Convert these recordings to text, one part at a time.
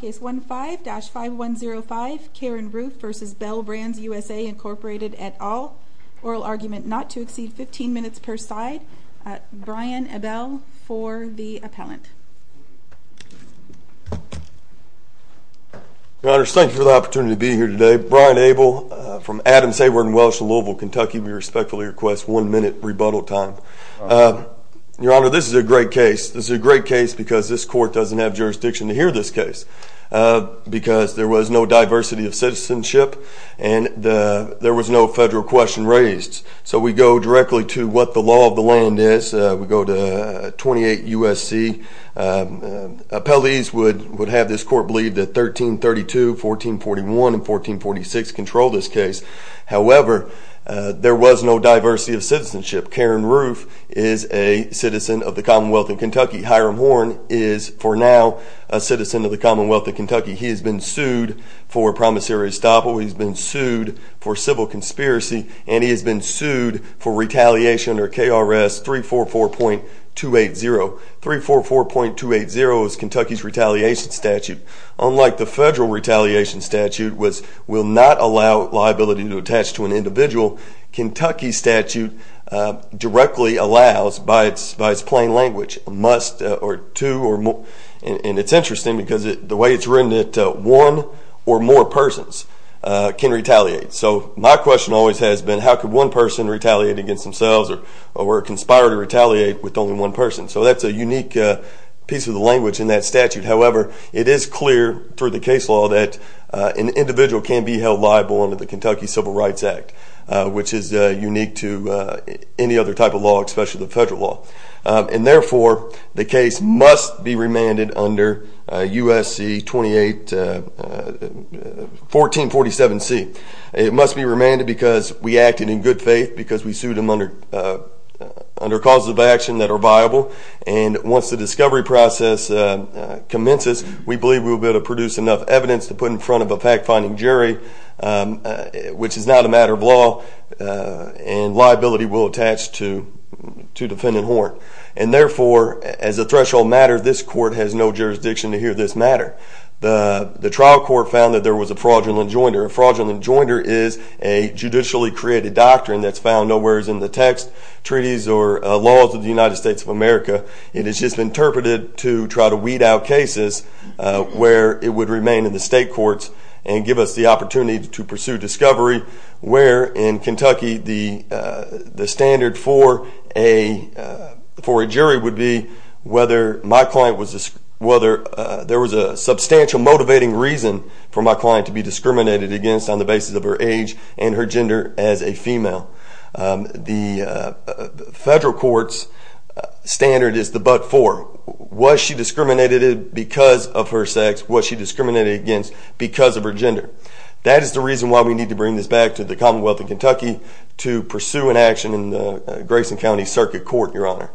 Case 15-5105, Karen Roof v. Bel Brands USA, Inc. et al. Oral argument not to exceed 15 minutes per side. Brian Abell for the appellant. Your Honor, thank you for the opportunity to be here today. Brian Abell from Adams-Sabor & Welsh, Louisville, Kentucky. We respectfully request one minute rebuttal time. Your Honor, this is a great case. This is a great case because this court doesn't have jurisdiction to hear this case because there was no diversity of citizenship and there was no federal question raised. So we go directly to what the law of the land is. We go to 28 U.S.C. Appellees would have this court believe that 1332, 1441, and 1446 control this case. However, there was no diversity of citizenship. Karen Roof is a citizen of the Commonwealth of Kentucky. Hiram Horn is, for now, a citizen of the Commonwealth of Kentucky. He has been sued for promissory estoppel. He has been sued for civil conspiracy and he has been sued for retaliation under KRS 344.280. 344.280 is Kentucky's retaliation statute. Unlike the federal retaliation statute, which will not allow liability to attach to an individual, Kentucky's statute directly allows, by its plain language, a must or two or more. And it's interesting because the way it's written, one or more persons can retaliate. So my question always has been, how could one person retaliate against themselves or conspire to retaliate with only one person? So that's a unique piece of the language in that statute. However, it is clear through the case law that an individual can be held liable under the Kentucky Civil Rights Act, which is unique to any other type of law, especially the federal law. And therefore, the case must be remanded under USC 1447C. It must be remanded because we acted in good faith, because we sued them under causes of action that are viable. And once the discovery process commences, we believe we will be able to produce enough evidence to put in front of a fact-finding jury, which is not a matter of law, and liability will attach to defendant Horn. And therefore, as a threshold matter, this court has no jurisdiction to hear this matter. In fact, the trial court found that there was a fraudulent joinder. A fraudulent joinder is a judicially created doctrine that's found nowhere as in the text, treaties, or laws of the United States of America. It is just interpreted to try to weed out cases where it would remain in the state courts and give us the opportunity to pursue discovery, where in Kentucky the standard for a jury would be whether there was a substantial motivating reason for my client to be discriminated against on the basis of her age and her gender as a female. The federal court's standard is the but for. Was she discriminated because of her sex? Was she discriminated against because of her gender? That is the reason why we need to bring this back to the Commonwealth of Kentucky to pursue an action in the Grayson County Circuit Court, Your Honor.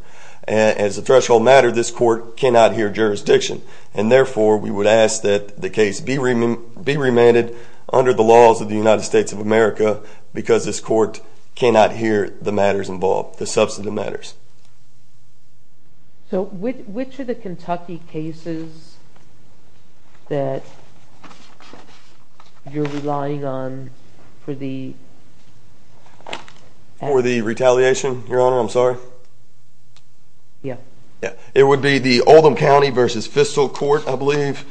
As a threshold matter, this court cannot hear jurisdiction. And therefore, we would ask that the case be remanded under the laws of the United States of America because this court cannot hear the matters involved, the substantive matters. So which are the Kentucky cases that you're relying on for the? For the retaliation, Your Honor, I'm sorry? Yeah. It would be the Oldham County versus Fiscal Court, I believe.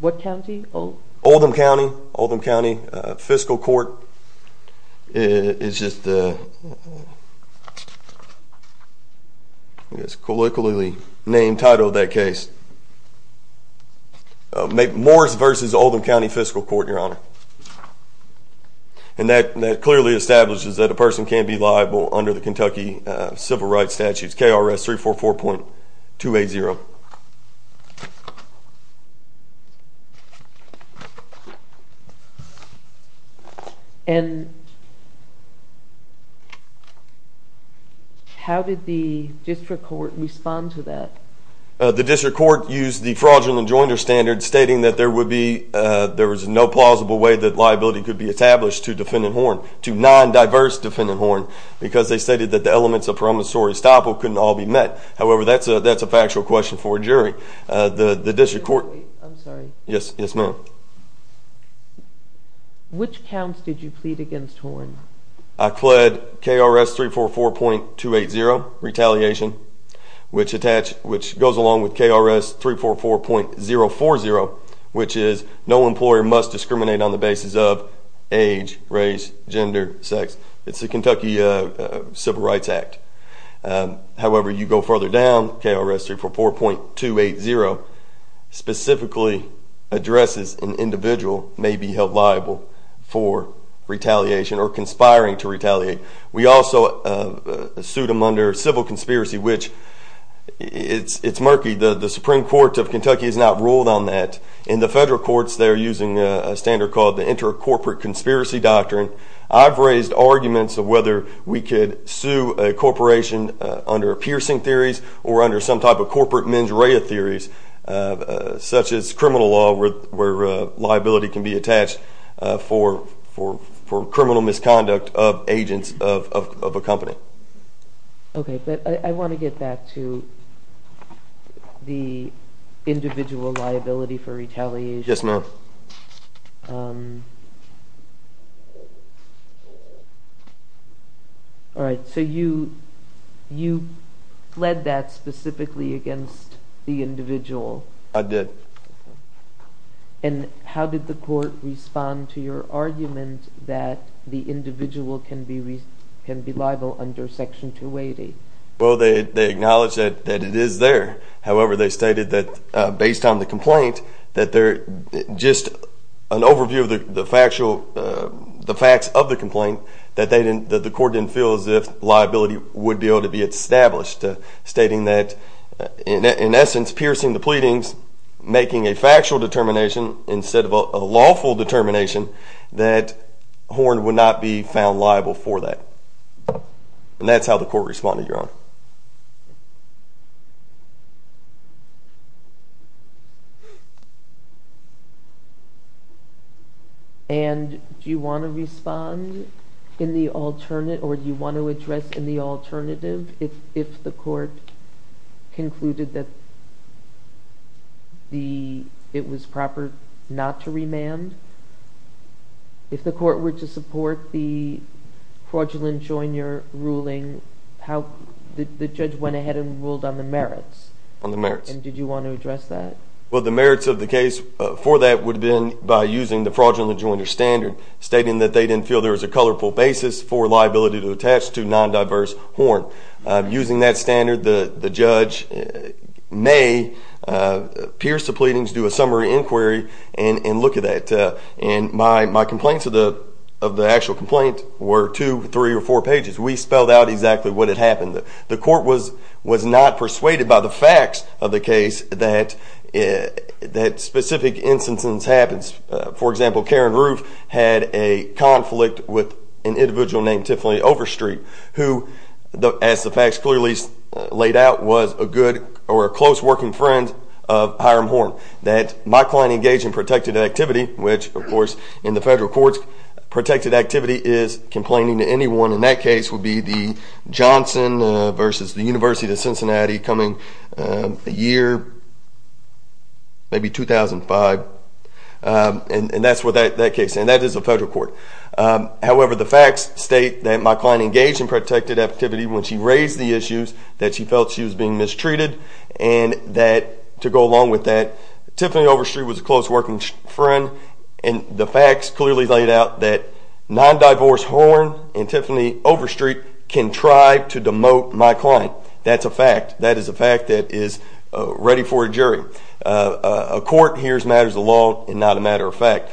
What county? Oldham County. Oldham County Fiscal Court. It's just a colloquially named title of that case. Morris versus Oldham County Fiscal Court, Your Honor. And that clearly establishes that a person can be liable under the Kentucky civil rights statutes, KRS 344.280. And how did the district court respond to that? The district court used the fraudulent enjoinder standard, stating that there was no plausible way that liability could be established to defendant Horne, to non-diverse defendant Horne, because they stated that the elements of promissory estoppel couldn't all be met. However, that's a factual question for a jury. I'm sorry. Yes, ma'am. Which counts did you plead against Horne? I pled KRS 344.280, retaliation, which goes along with KRS 344.040, which is no employer must discriminate on the basis of age, race, gender, sex. It's the Kentucky Civil Rights Act. However, you go further down, KRS 344.280 specifically addresses an individual may be held liable for retaliation or conspiring to retaliate. We also sued him under civil conspiracy, which it's murky. The Supreme Court of Kentucky has not ruled on that. In the federal courts, they're using a standard called the inter-corporate conspiracy doctrine. I've raised arguments of whether we could sue a corporation under piercing theories or under some type of corporate mens rea theories, such as criminal law, where liability can be attached for criminal misconduct of agents of a company. Okay, but I want to get back to the individual liability for retaliation. Yes, ma'am. All right, so you pled that specifically against the individual. I did. And how did the court respond to your argument that the individual can be liable under section 280? Well, they acknowledged that it is there. However, they stated that based on the complaint, that just an overview of the facts of the complaint, that the court didn't feel as if liability would be able to be established, stating that, in essence, piercing the pleadings, making a factual determination instead of a lawful determination, that Horn would not be found liable for that. And that's how the court responded, Your Honor. And do you want to respond in the alternative or do you want to address in the alternative if the court concluded that it was proper not to remand? If the court were to support the fraudulent joiner ruling, the judge went ahead and ruled on the merits. On the merits. And did you want to address that? Well, the merits of the case for that would have been by using the fraudulent joiner standard, stating that they didn't feel there was a colorful basis for liability to attach to non-diverse Horn. Using that standard, the judge may pierce the pleadings, do a summary inquiry, and look at that. And my complaints of the actual complaint were two, three, or four pages. We spelled out exactly what had happened. The court was not persuaded by the facts of the case that specific instances happens. For example, Karen Roof had a conflict with an individual named Tiffany Overstreet, who, as the facts clearly laid out, was a good or a close working friend of Hiram Horn. That my client engaged in protected activity, which, of course, in the federal courts, protected activity is complaining to anyone. And that case would be the Johnson versus the University of Cincinnati coming year maybe 2005. And that's what that case, and that is a federal court. However, the facts state that my client engaged in protected activity when she raised the issues that she felt she was being mistreated. And that, to go along with that, Tiffany Overstreet was a close working friend. And the facts clearly laid out that non-diverse Horn and Tiffany Overstreet can try to demote my client. That's a fact. That is a fact that is ready for a jury. A court hears matters of law and not a matter of fact.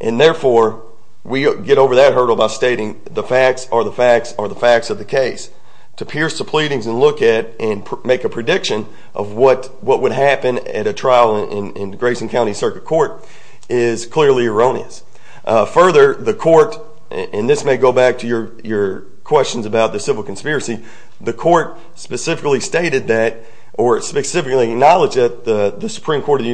And therefore, we get over that hurdle by stating the facts are the facts are the facts of the case. To pierce the pleadings and look at and make a prediction of what would happen at a trial in Grayson County Circuit Court is clearly erroneous. Further, the court, and this may go back to your questions about the civil conspiracy, the court specifically stated that or specifically acknowledged that the Supreme Court of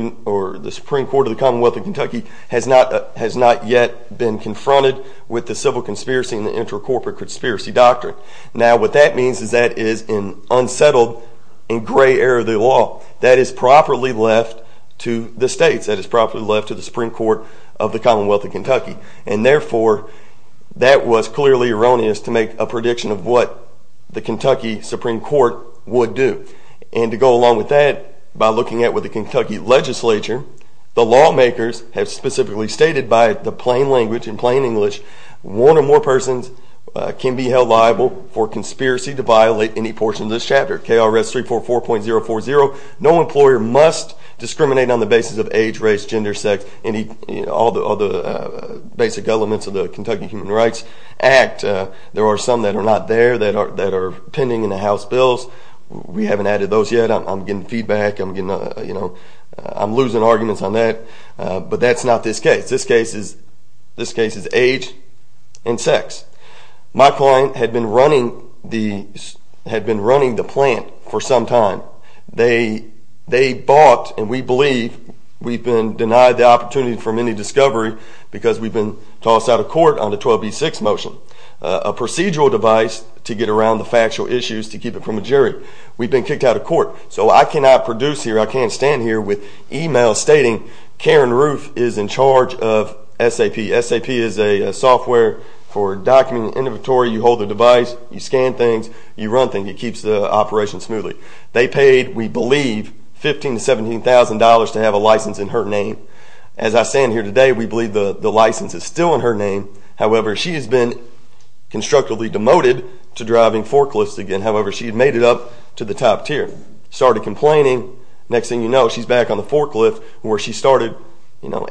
the Commonwealth of Kentucky has not yet been confronted with the civil conspiracy and the inter-corporate conspiracy doctrine. Now, what that means is that is an unsettled and gray area of the law. That is properly left to the states. That is properly left to the Supreme Court of the Commonwealth of Kentucky. And therefore, that was clearly erroneous to make a prediction of what the Kentucky Supreme Court would do. And to go along with that, by looking at what the Kentucky legislature, the lawmakers, have specifically stated by the plain language and plain English, one or more persons can be held liable for conspiracy to violate any portion of this chapter. KRS 344.040, no employer must discriminate on the basis of age, race, gender, sex, all the basic elements of the Kentucky Human Rights Act. There are some that are not there that are pending in the House bills. We haven't added those yet. I'm getting feedback. I'm losing arguments on that. But that's not this case. This case is age and sex. My client had been running the plant for some time. They bought, and we believe we've been denied the opportunity for any discovery because we've been tossed out of court on the 12b6 motion, a procedural device to get around the factual issues to keep it from a jury. We've been kicked out of court. So I cannot produce here, I can't stand here with e-mails stating Karen Ruth is in charge of SAP. SAP is a software for documenting inventory. You hold the device, you scan things, you run things. It keeps the operation smoothly. They paid, we believe, $15,000 to $17,000 to have a license in her name. As I stand here today, we believe the license is still in her name. However, she has been constructively demoted to driving forklifts again. However, she had made it up to the top tier, started complaining. Next thing you know, she's back on the forklift where she started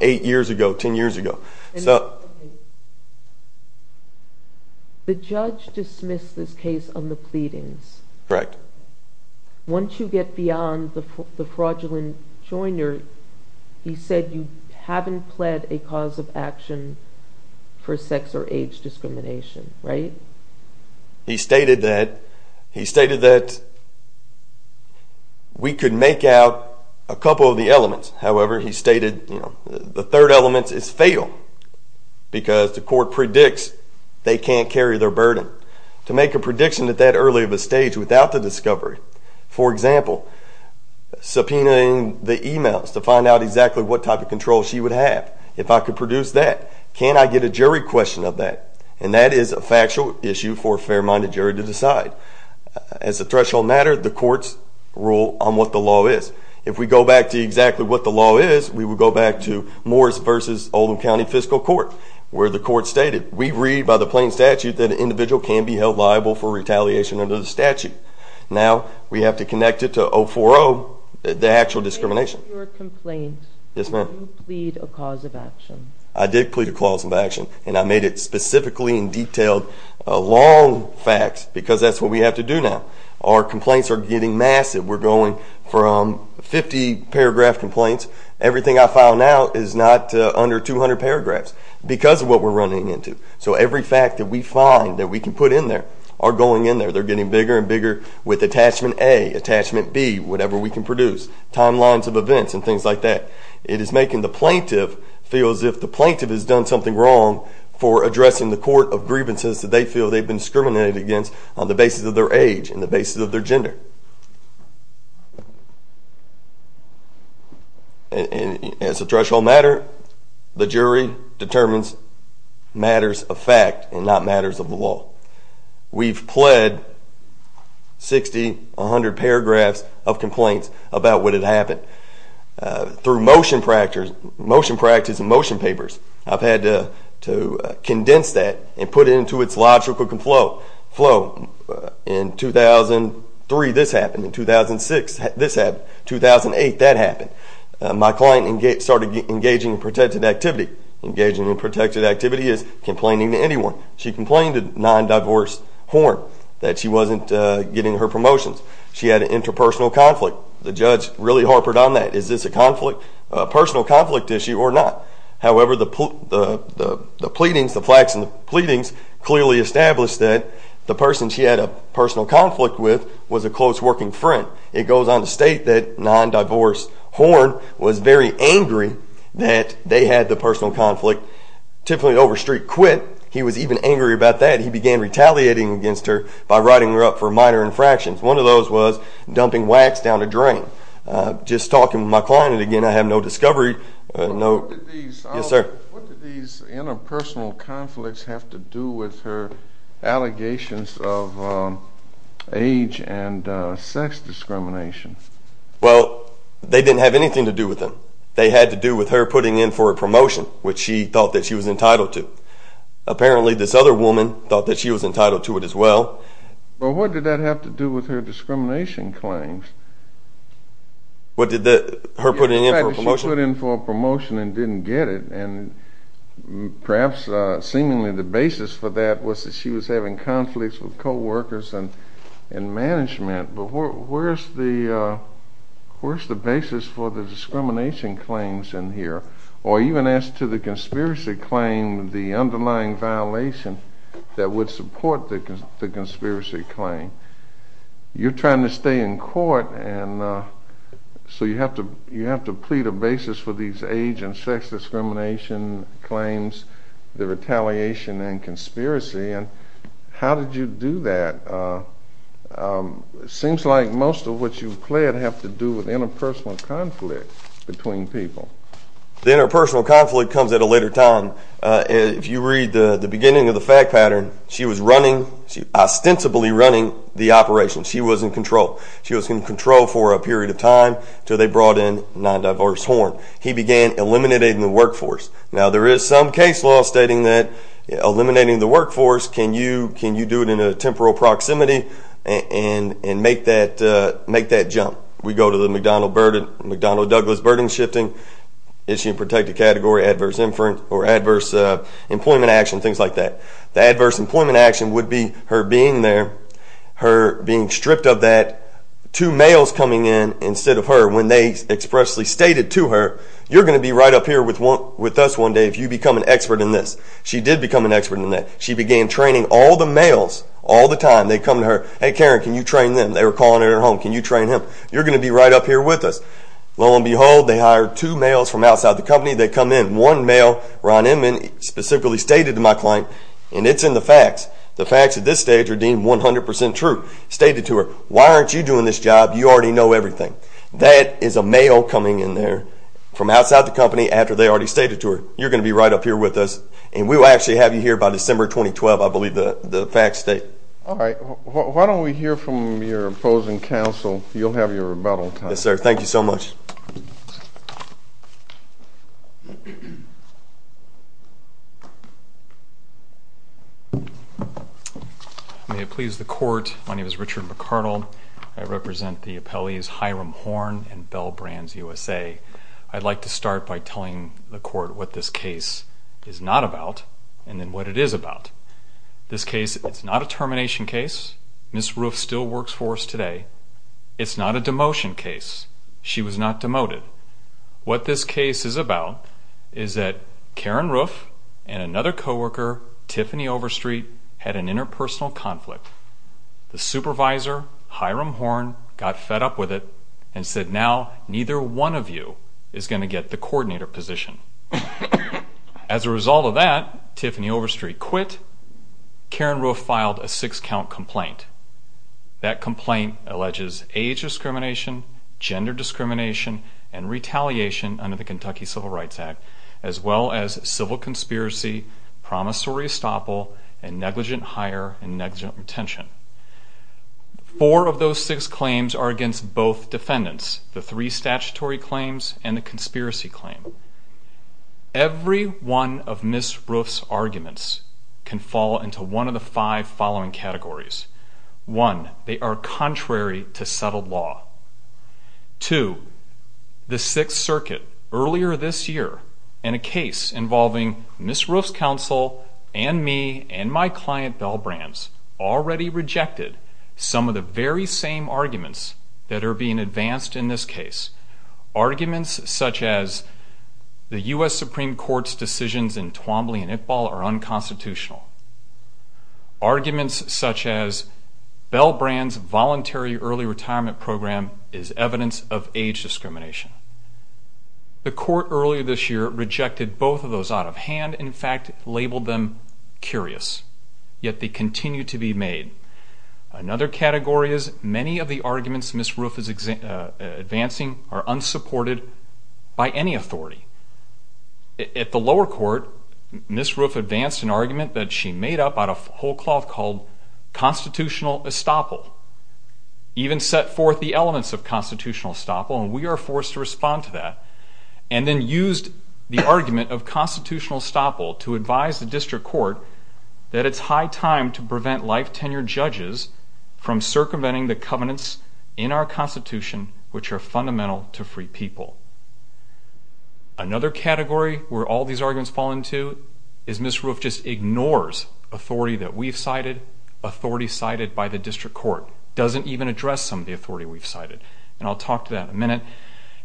eight years ago, ten years ago. The judge dismissed this case on the pleadings. Correct. Once you get beyond the fraudulent joiner, he said you haven't pled a cause of action for sex or age discrimination, right? He stated that we could make out a couple of the elements. However, he stated the third element is fatal because the court predicts they can't carry their burden. To make a prediction at that early of a stage without the discovery, for example, subpoenaing the e-mails to find out exactly what type of control she would have, if I could produce that, can I get a jury question of that? And that is a factual issue for a fair-minded jury to decide. As a threshold matter, the courts rule on what the law is. If we go back to exactly what the law is, we would go back to Morris v. Oldham County Fiscal Court, where the court stated, we read by the plain statute that an individual can be held liable for retaliation under the statute. Now, we have to connect it to 040, the actual discrimination. In your complaint, did you plead a cause of action? And I made it specifically in detail, long facts, because that's what we have to do now. Our complaints are getting massive. We're going from 50-paragraph complaints. Everything I file now is not under 200 paragraphs because of what we're running into. So every fact that we find that we can put in there are going in there. They're getting bigger and bigger with attachment A, attachment B, whatever we can produce, timelines of events and things like that. It is making the plaintiff feel as if the plaintiff has done something wrong for addressing the court of grievances that they feel they've been discriminated against on the basis of their age and the basis of their gender. And as a threshold matter, the jury determines matters of fact and not matters of the law. We've pled 60, 100 paragraphs of complaints about what had happened. Through motion practice and motion papers, I've had to condense that and put it into its logical flow. In 2003, this happened. In 2006, this happened. In 2008, that happened. My client started engaging in protected activity. Engaging in protected activity is complaining to anyone. She complained to non-divorced horn that she wasn't getting her promotions. She had an interpersonal conflict. The judge really harpered on that. Is this a personal conflict issue or not? However, the pleadings, the plaques and the pleadings, clearly established that the person she had a personal conflict with was a close working friend. It goes on to state that non-divorced horn was very angry that they had the personal conflict. Typically, over street quit, he was even angry about that. He began retaliating against her by writing her up for minor infractions. One of those was dumping wax down a drain. Just talking to my client again, I have no discovery. What did these interpersonal conflicts have to do with her allegations of age and sex discrimination? Well, they didn't have anything to do with them. They had to do with her putting in for a promotion, which she thought that she was entitled to. Apparently, this other woman thought that she was entitled to it as well. Well, what did that have to do with her discrimination claims? Her putting in for a promotion? The fact that she put in for a promotion and didn't get it. Perhaps, seemingly, the basis for that was that she was having conflicts with co-workers and management. Where's the basis for the discrimination claims in here? Or even as to the conspiracy claim, the underlying violation that would support the conspiracy claim. You're trying to stay in court, so you have to plead a basis for these age and sex discrimination claims, the retaliation and conspiracy. How did you do that? It seems like most of what you've pled have to do with interpersonal conflict between people. The interpersonal conflict comes at a later time. If you read the beginning of the fact pattern, she was ostensibly running the operation. She was in control. She was in control for a period of time until they brought in non-diverse horn. He began eliminating the workforce. Now, there is some case law stating that eliminating the workforce, can you do it in a temporal proximity and make that jump? We go to the McDonnell-Douglas burden shifting, issue protected category, adverse employment action, things like that. The adverse employment action would be her being there, her being stripped of that, two males coming in instead of her. When they expressly stated to her, you're going to be right up here with us one day if you become an expert in this. She did become an expert in that. She began training all the males all the time. They come to her. Hey, Karen, can you train them? They were calling at her home. Can you train them? You're going to be right up here with us. Lo and behold, they hired two males from outside the company. They come in. One male, Ron Inman, specifically stated to my client, and it's in the facts. The facts at this stage are deemed 100% true. Stated to her, why aren't you doing this job? You already know everything. That is a male coming in there from outside the company after they already stated to her. You're going to be right up here with us, and we will actually have you here by December 2012, I believe the facts state. All right. Why don't we hear from your opposing counsel? You'll have your rebuttal time. Yes, sir. Thank you so much. May it please the court, my name is Richard McArdle. I represent the appellees Hiram Horn and Bell Brands USA. I'd like to start by telling the court what this case is not about and then what it is about. This case, it's not a termination case. Ms. Roof still works for us today. It's not a demotion case. She was not demoted. What this case is about is that Karen Roof and another co-worker, Tiffany Overstreet, had an interpersonal conflict. The supervisor, Hiram Horn, got fed up with it and said, now neither one of you is going to get the coordinator position. As a result of that, Tiffany Overstreet quit. Karen Roof filed a six-count complaint. That complaint alleges age discrimination, gender discrimination, and retaliation under the Kentucky Civil Rights Act, as well as civil conspiracy, promissory estoppel, and negligent hire and negligent retention. Four of those six claims are against both defendants, the three statutory claims and the conspiracy claim. Every one of Ms. Roof's arguments can fall into one of the five following categories. One, they are contrary to settled law. Two, the Sixth Circuit earlier this year in a case involving Ms. Roof's counsel and me and my client, Bell Brands, already rejected some of the very same arguments that are being advanced in this case. Arguments such as the U.S. Supreme Court's decisions in Twombly and Iqbal are unconstitutional. Arguments such as Bell Brands' voluntary early retirement program is evidence of age discrimination. The court earlier this year rejected both of those out of hand and in fact labeled them curious, yet they continue to be made. Another category is many of the arguments Ms. Roof is advancing are unsupported by any authority. At the lower court, Ms. Roof advanced an argument that she made up out of whole cloth called constitutional estoppel, even set forth the elements of constitutional estoppel, and we are forced to respond to that, and then used the argument of constitutional estoppel to advise the district court that it's high time to prevent life-tenured judges from circumventing the covenants in our Constitution which are fundamental to free people. Another category where all these arguments fall into is Ms. Roof just ignores authority that we've cited, authority cited by the district court, doesn't even address some of the authority we've cited, and I'll talk to that in a minute.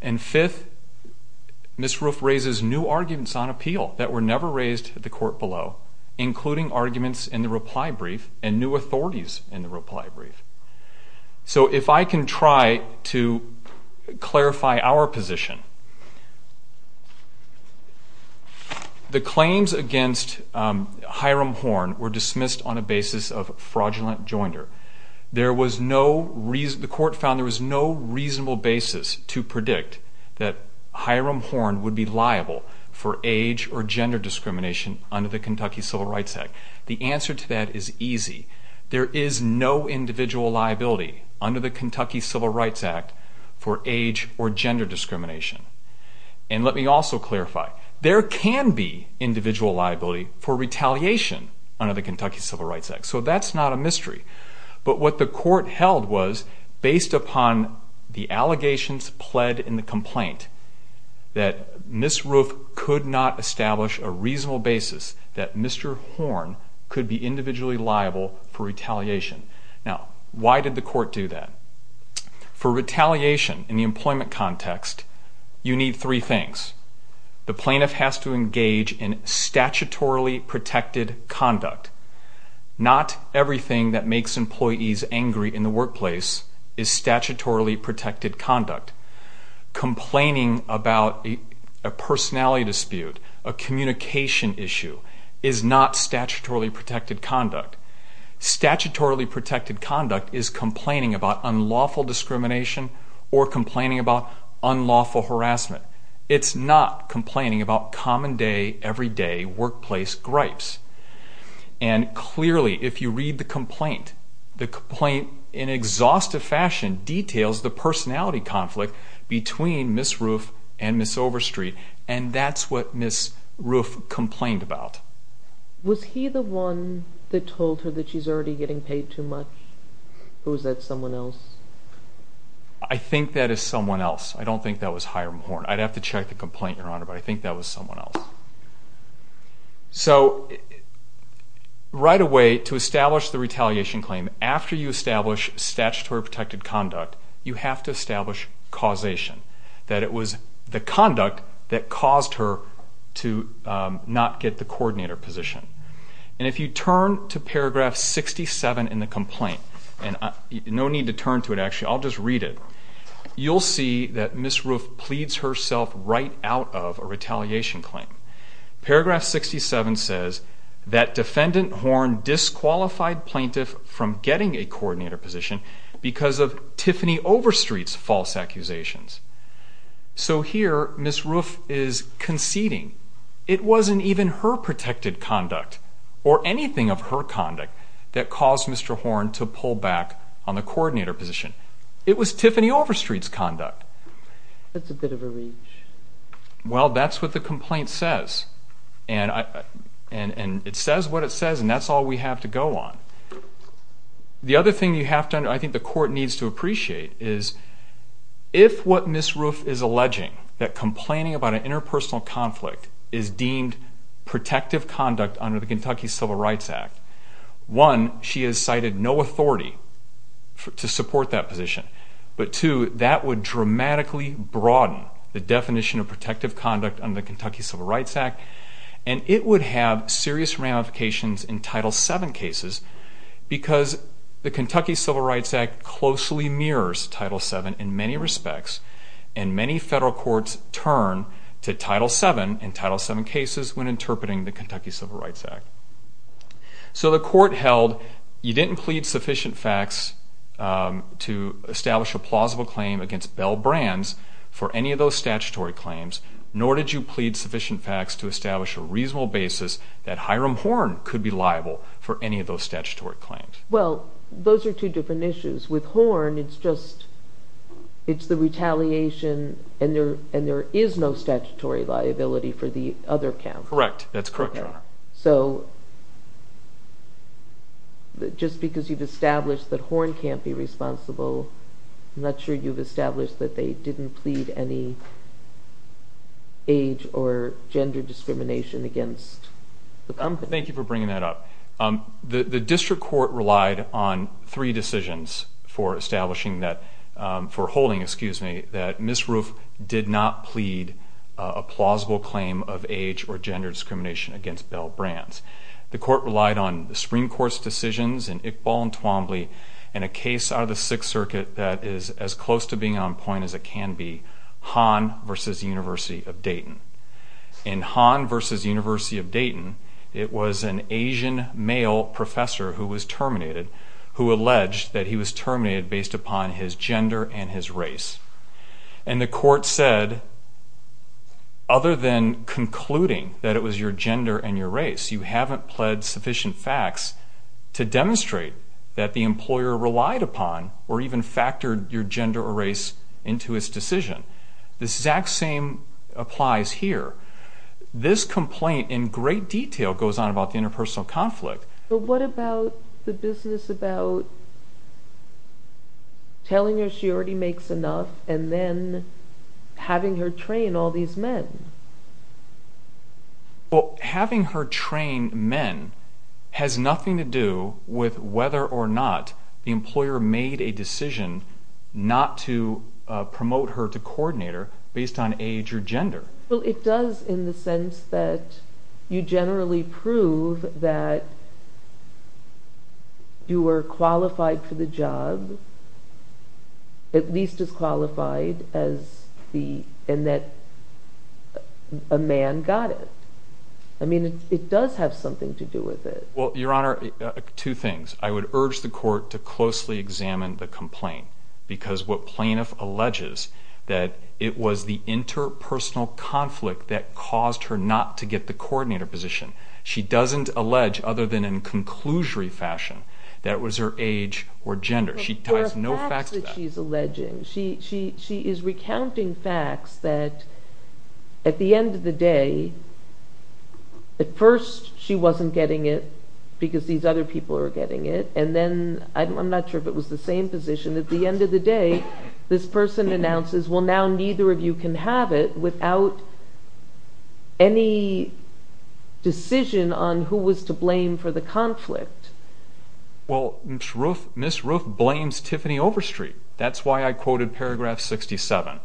And fifth, Ms. Roof raises new arguments on appeal that were never raised at the court below, including arguments in the reply brief and new authorities in the reply brief. So if I can try to clarify our position, the claims against Hiram Horne were dismissed on a basis of fraudulent joinder. The court found there was no reasonable basis to predict that Hiram Horne would be liable for age or gender discrimination under the Kentucky Civil Rights Act. The answer to that is easy. There is no individual liability under the Kentucky Civil Rights Act for age or gender discrimination. And let me also clarify, there can be individual liability for retaliation under the Kentucky Civil Rights Act, so that's not a mystery. But what the court held was, based upon the allegations pled in the complaint, that Ms. Roof could not establish a reasonable basis that Mr. Horne could be individually liable for retaliation. Now, why did the court do that? For retaliation in the employment context, you need three things. The plaintiff has to engage in statutorily protected conduct. Not everything that makes employees angry in the workplace is statutorily protected conduct. Complaining about a personality dispute, a communication issue, is not statutorily protected conduct. Statutorily protected conduct is complaining about unlawful discrimination or complaining about unlawful harassment. It's not complaining about common day, everyday workplace gripes. And clearly, if you read the complaint, the complaint, in an exhaustive fashion, details the personality conflict between Ms. Roof and Ms. Overstreet. And that's what Ms. Roof complained about. Was he the one that told her that she's already getting paid too much, or was that someone else? I think that is someone else. I don't think that was Hiram Horne. I'd have to check the complaint, Your Honor, but I think that was someone else. So, right away, to establish the retaliation claim, after you establish statutory protected conduct, you have to establish causation, that it was the conduct that caused her to not get the coordinator position. And if you turn to paragraph 67 in the complaint, and no need to turn to it, actually, I'll just read it, you'll see that Ms. Roof pleads herself right out of a retaliation claim. Paragraph 67 says that defendant Horne disqualified plaintiff from getting a coordinator position because of Tiffany Overstreet's false accusations. So here, Ms. Roof is conceding. It wasn't even her protected conduct, or anything of her conduct, that caused Mr. Horne to pull back on the coordinator position. It was Tiffany Overstreet's conduct. That's a bit of a reach. Well, that's what the complaint says. And it says what it says, and that's all we have to go on. The other thing you have to understand, I think the court needs to appreciate, is if what Ms. Roof is alleging, that complaining about an interpersonal conflict, is deemed protective conduct under the Kentucky Civil Rights Act, one, she has cited no authority to support that position, but two, that would dramatically broaden the definition of protective conduct under the Kentucky Civil Rights Act, and it would have serious ramifications in Title VII cases because the Kentucky Civil Rights Act closely mirrors Title VII in many respects, and many federal courts turn to Title VII in Title VII cases when interpreting the Kentucky Civil Rights Act. So the court held you didn't plead sufficient facts to establish a plausible claim against Bell Brands for any of those statutory claims, nor did you plead sufficient facts to establish a reasonable basis that Hiram Horne could be liable for any of those statutory claims. Well, those are two different issues. With Horne, it's the retaliation, and there is no statutory liability for the other count. Correct. That's correct, Your Honor. So just because you've established that Horne can't be responsible, I'm not sure you've established that they didn't plead any age or gender discrimination against the company. Thank you for bringing that up. The district court relied on three decisions for establishing that, for holding, excuse me, that Ms. Roof did not plead a plausible claim of age or gender discrimination against Bell Brands. The court relied on the Supreme Court's decisions in Iqbal and Twombly and a case out of the Sixth Circuit that is as close to being on point as it can be, Hahn v. University of Dayton. In Hahn v. University of Dayton, it was an Asian male professor who was terminated who alleged that he was terminated based upon his gender and his race. And the court said, other than concluding that it was your gender and your race, you haven't pled sufficient facts to demonstrate that the employer relied upon or even factored your gender or race into his decision. The exact same applies here. This complaint in great detail goes on about the interpersonal conflict. What about the business about telling her she already makes enough and then having her train all these men? Well, having her train men has nothing to do with whether or not the employer made a decision not to promote her to coordinator based on age or gender. Well, it does in the sense that you generally prove that you were qualified for the job, at least as qualified, and that a man got it. I mean, it does have something to do with it. Well, Your Honor, two things. I would urge the court to closely examine the complaint because what plaintiff alleges that it was the interpersonal conflict that caused her not to get the coordinator position. She doesn't allege, other than in conclusory fashion, that it was her age or gender. She ties no facts to that. But there are facts that she's alleging. She is recounting facts that, at the end of the day, at first she wasn't getting it because these other people were getting it, and then I'm not sure if it was the same position. At the end of the day, this person announces, well, now neither of you can have it without any decision on who was to blame for the conflict. Well, Ms. Ruth blames Tiffany Overstreet. That's why I quoted paragraph 67.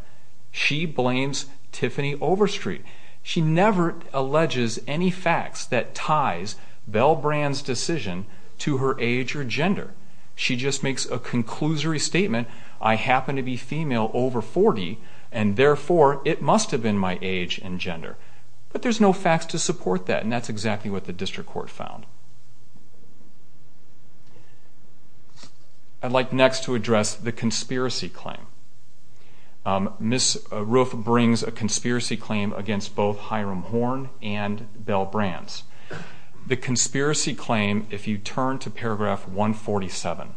She blames Tiffany Overstreet. She never alleges any facts that ties Belle Brand's decision to her age or gender. She just makes a conclusory statement, I happen to be female over 40, and therefore it must have been my age and gender. But there's no facts to support that, and that's exactly what the district court found. I'd like next to address the conspiracy claim. Ms. Ruth brings a conspiracy claim against both Hiram Horne and Belle Brands. The conspiracy claim, if you turn to paragraph 147,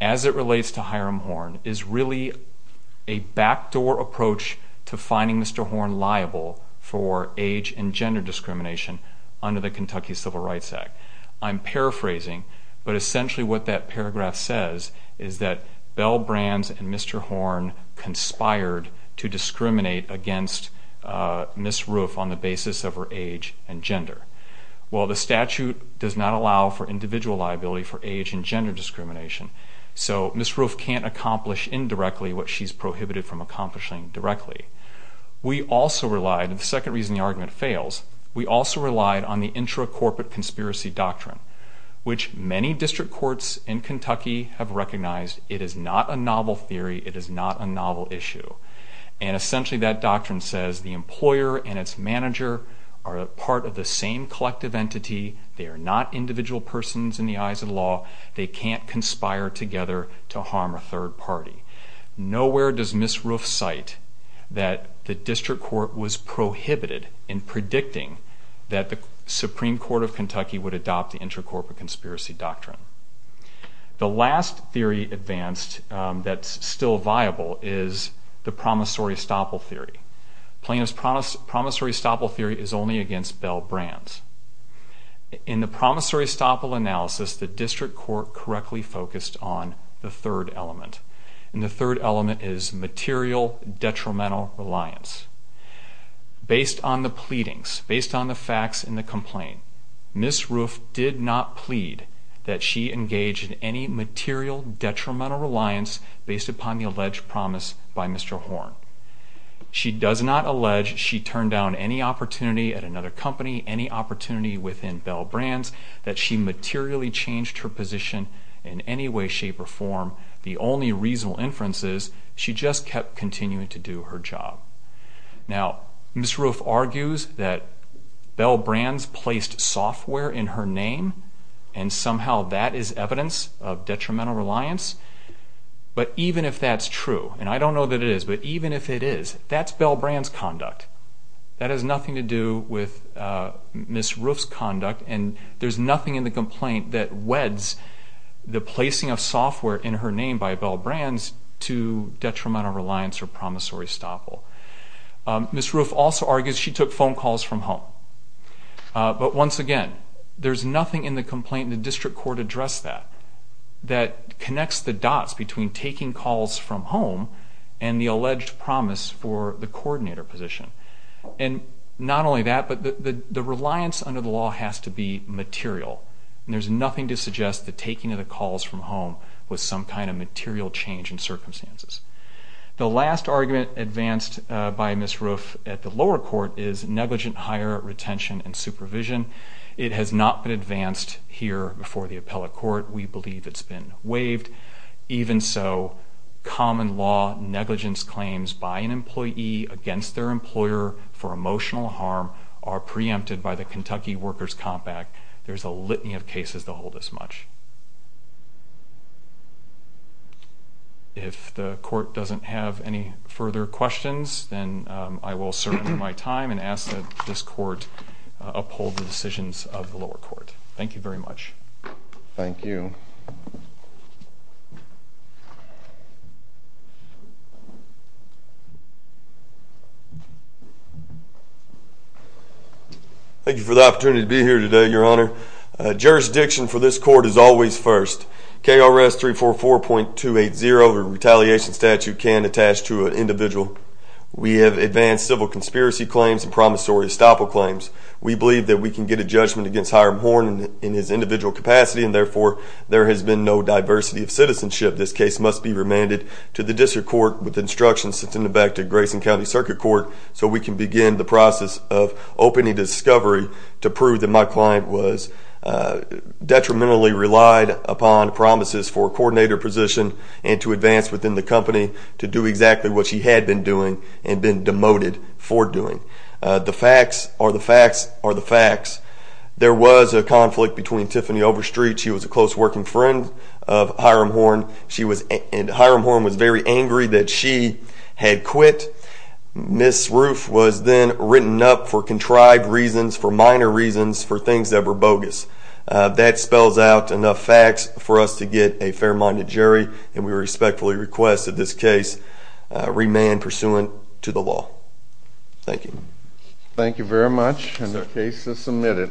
as it relates to Hiram Horne, is really a backdoor approach to finding Mr. Horne liable for age and gender discrimination under the Kentucky Civil Rights Act. I'm paraphrasing, but essentially what that paragraph says is that Belle Brands and Mr. Horne conspired to discriminate against Ms. Ruth on the basis of her age and gender. Well, the statute does not allow for individual liability for age and gender discrimination, so Ms. Ruth can't accomplish indirectly what she's prohibited from accomplishing directly. We also relied, and the second reason the argument fails, we also relied on the intra-corporate conspiracy doctrine, which many district courts in Kentucky have recognized. It is not a novel theory. It is not a novel issue. And essentially that doctrine says the employer and its manager are a part of the same collective entity. They are not individual persons in the eyes of the law. They can't conspire together to harm a third party. Nowhere does Ms. Ruth cite that the district court was prohibited in predicting that the Supreme Court of Kentucky would adopt the intra-corporate conspiracy doctrine. The last theory advanced that's still viable is the promissory estoppel theory. Plaintiff's promissory estoppel theory is only against Belle Brands. In the promissory estoppel analysis, the district court correctly focused on the third element, and the third element is material detrimental reliance. Based on the pleadings, based on the facts in the complaint, Ms. Ruth did not plead that she engaged in any material detrimental reliance based upon the alleged promise by Mr. Horn. She does not allege she turned down any opportunity at another company, any opportunity within Belle Brands, that she materially changed her position in any way, shape, or form. The only reasonable inference is she just kept continuing to do her job. Now, Ms. Ruth argues that Belle Brands placed software in her name, and somehow that is evidence of detrimental reliance. But even if that's true, and I don't know that it is, but even if it is, that's Belle Brands' conduct. And there's nothing in the complaint that weds the placing of software in her name by Belle Brands to detrimental reliance or promissory estoppel. Ms. Ruth also argues she took phone calls from home. But once again, there's nothing in the complaint, and the district court addressed that, that connects the dots between taking calls from home and the alleged promise for the coordinator position. And not only that, but the reliance under the law has to be material, and there's nothing to suggest the taking of the calls from home was some kind of material change in circumstances. The last argument advanced by Ms. Ruth at the lower court is negligent hire, retention, and supervision. It has not been advanced here before the appellate court. We believe it's been waived. Even so, common law negligence claims by an employee against their employer for emotional harm are preempted by the Kentucky Workers' Compact. There's a litany of cases to hold as much. If the court doesn't have any further questions, then I will serve my time and ask that this court uphold the decisions of the lower court. Thank you very much. Thank you. Thank you for the opportunity to be here today, Your Honor. Jurisdiction for this court is always first. KRS 344.280, the retaliation statute, can attach to an individual. We have advanced civil conspiracy claims and promissory estoppel claims. We believe that we can get a judgment against Hiram Horne in his individual capacity, and therefore there has been no diversity of citizenship. This case must be remanded to the district court with instructions sent back to Grayson County Circuit Court so we can begin the process of opening discovery to prove that my client was detrimentally relied upon promises for coordinator position and to advance within the company to do exactly what she had been doing and been demoted for doing. The facts are the facts are the facts. There was a conflict between Tiffany Overstreet. She was a close working friend of Hiram Horne, and Hiram Horne was very angry that she had quit. Ms. Roof was then written up for contrived reasons, for minor reasons, for things that were bogus. That spells out enough facts for us to get a fair-minded jury, and we respectfully request that this case remand pursuant to the law. Thank you. Thank you very much, and the case is submitted.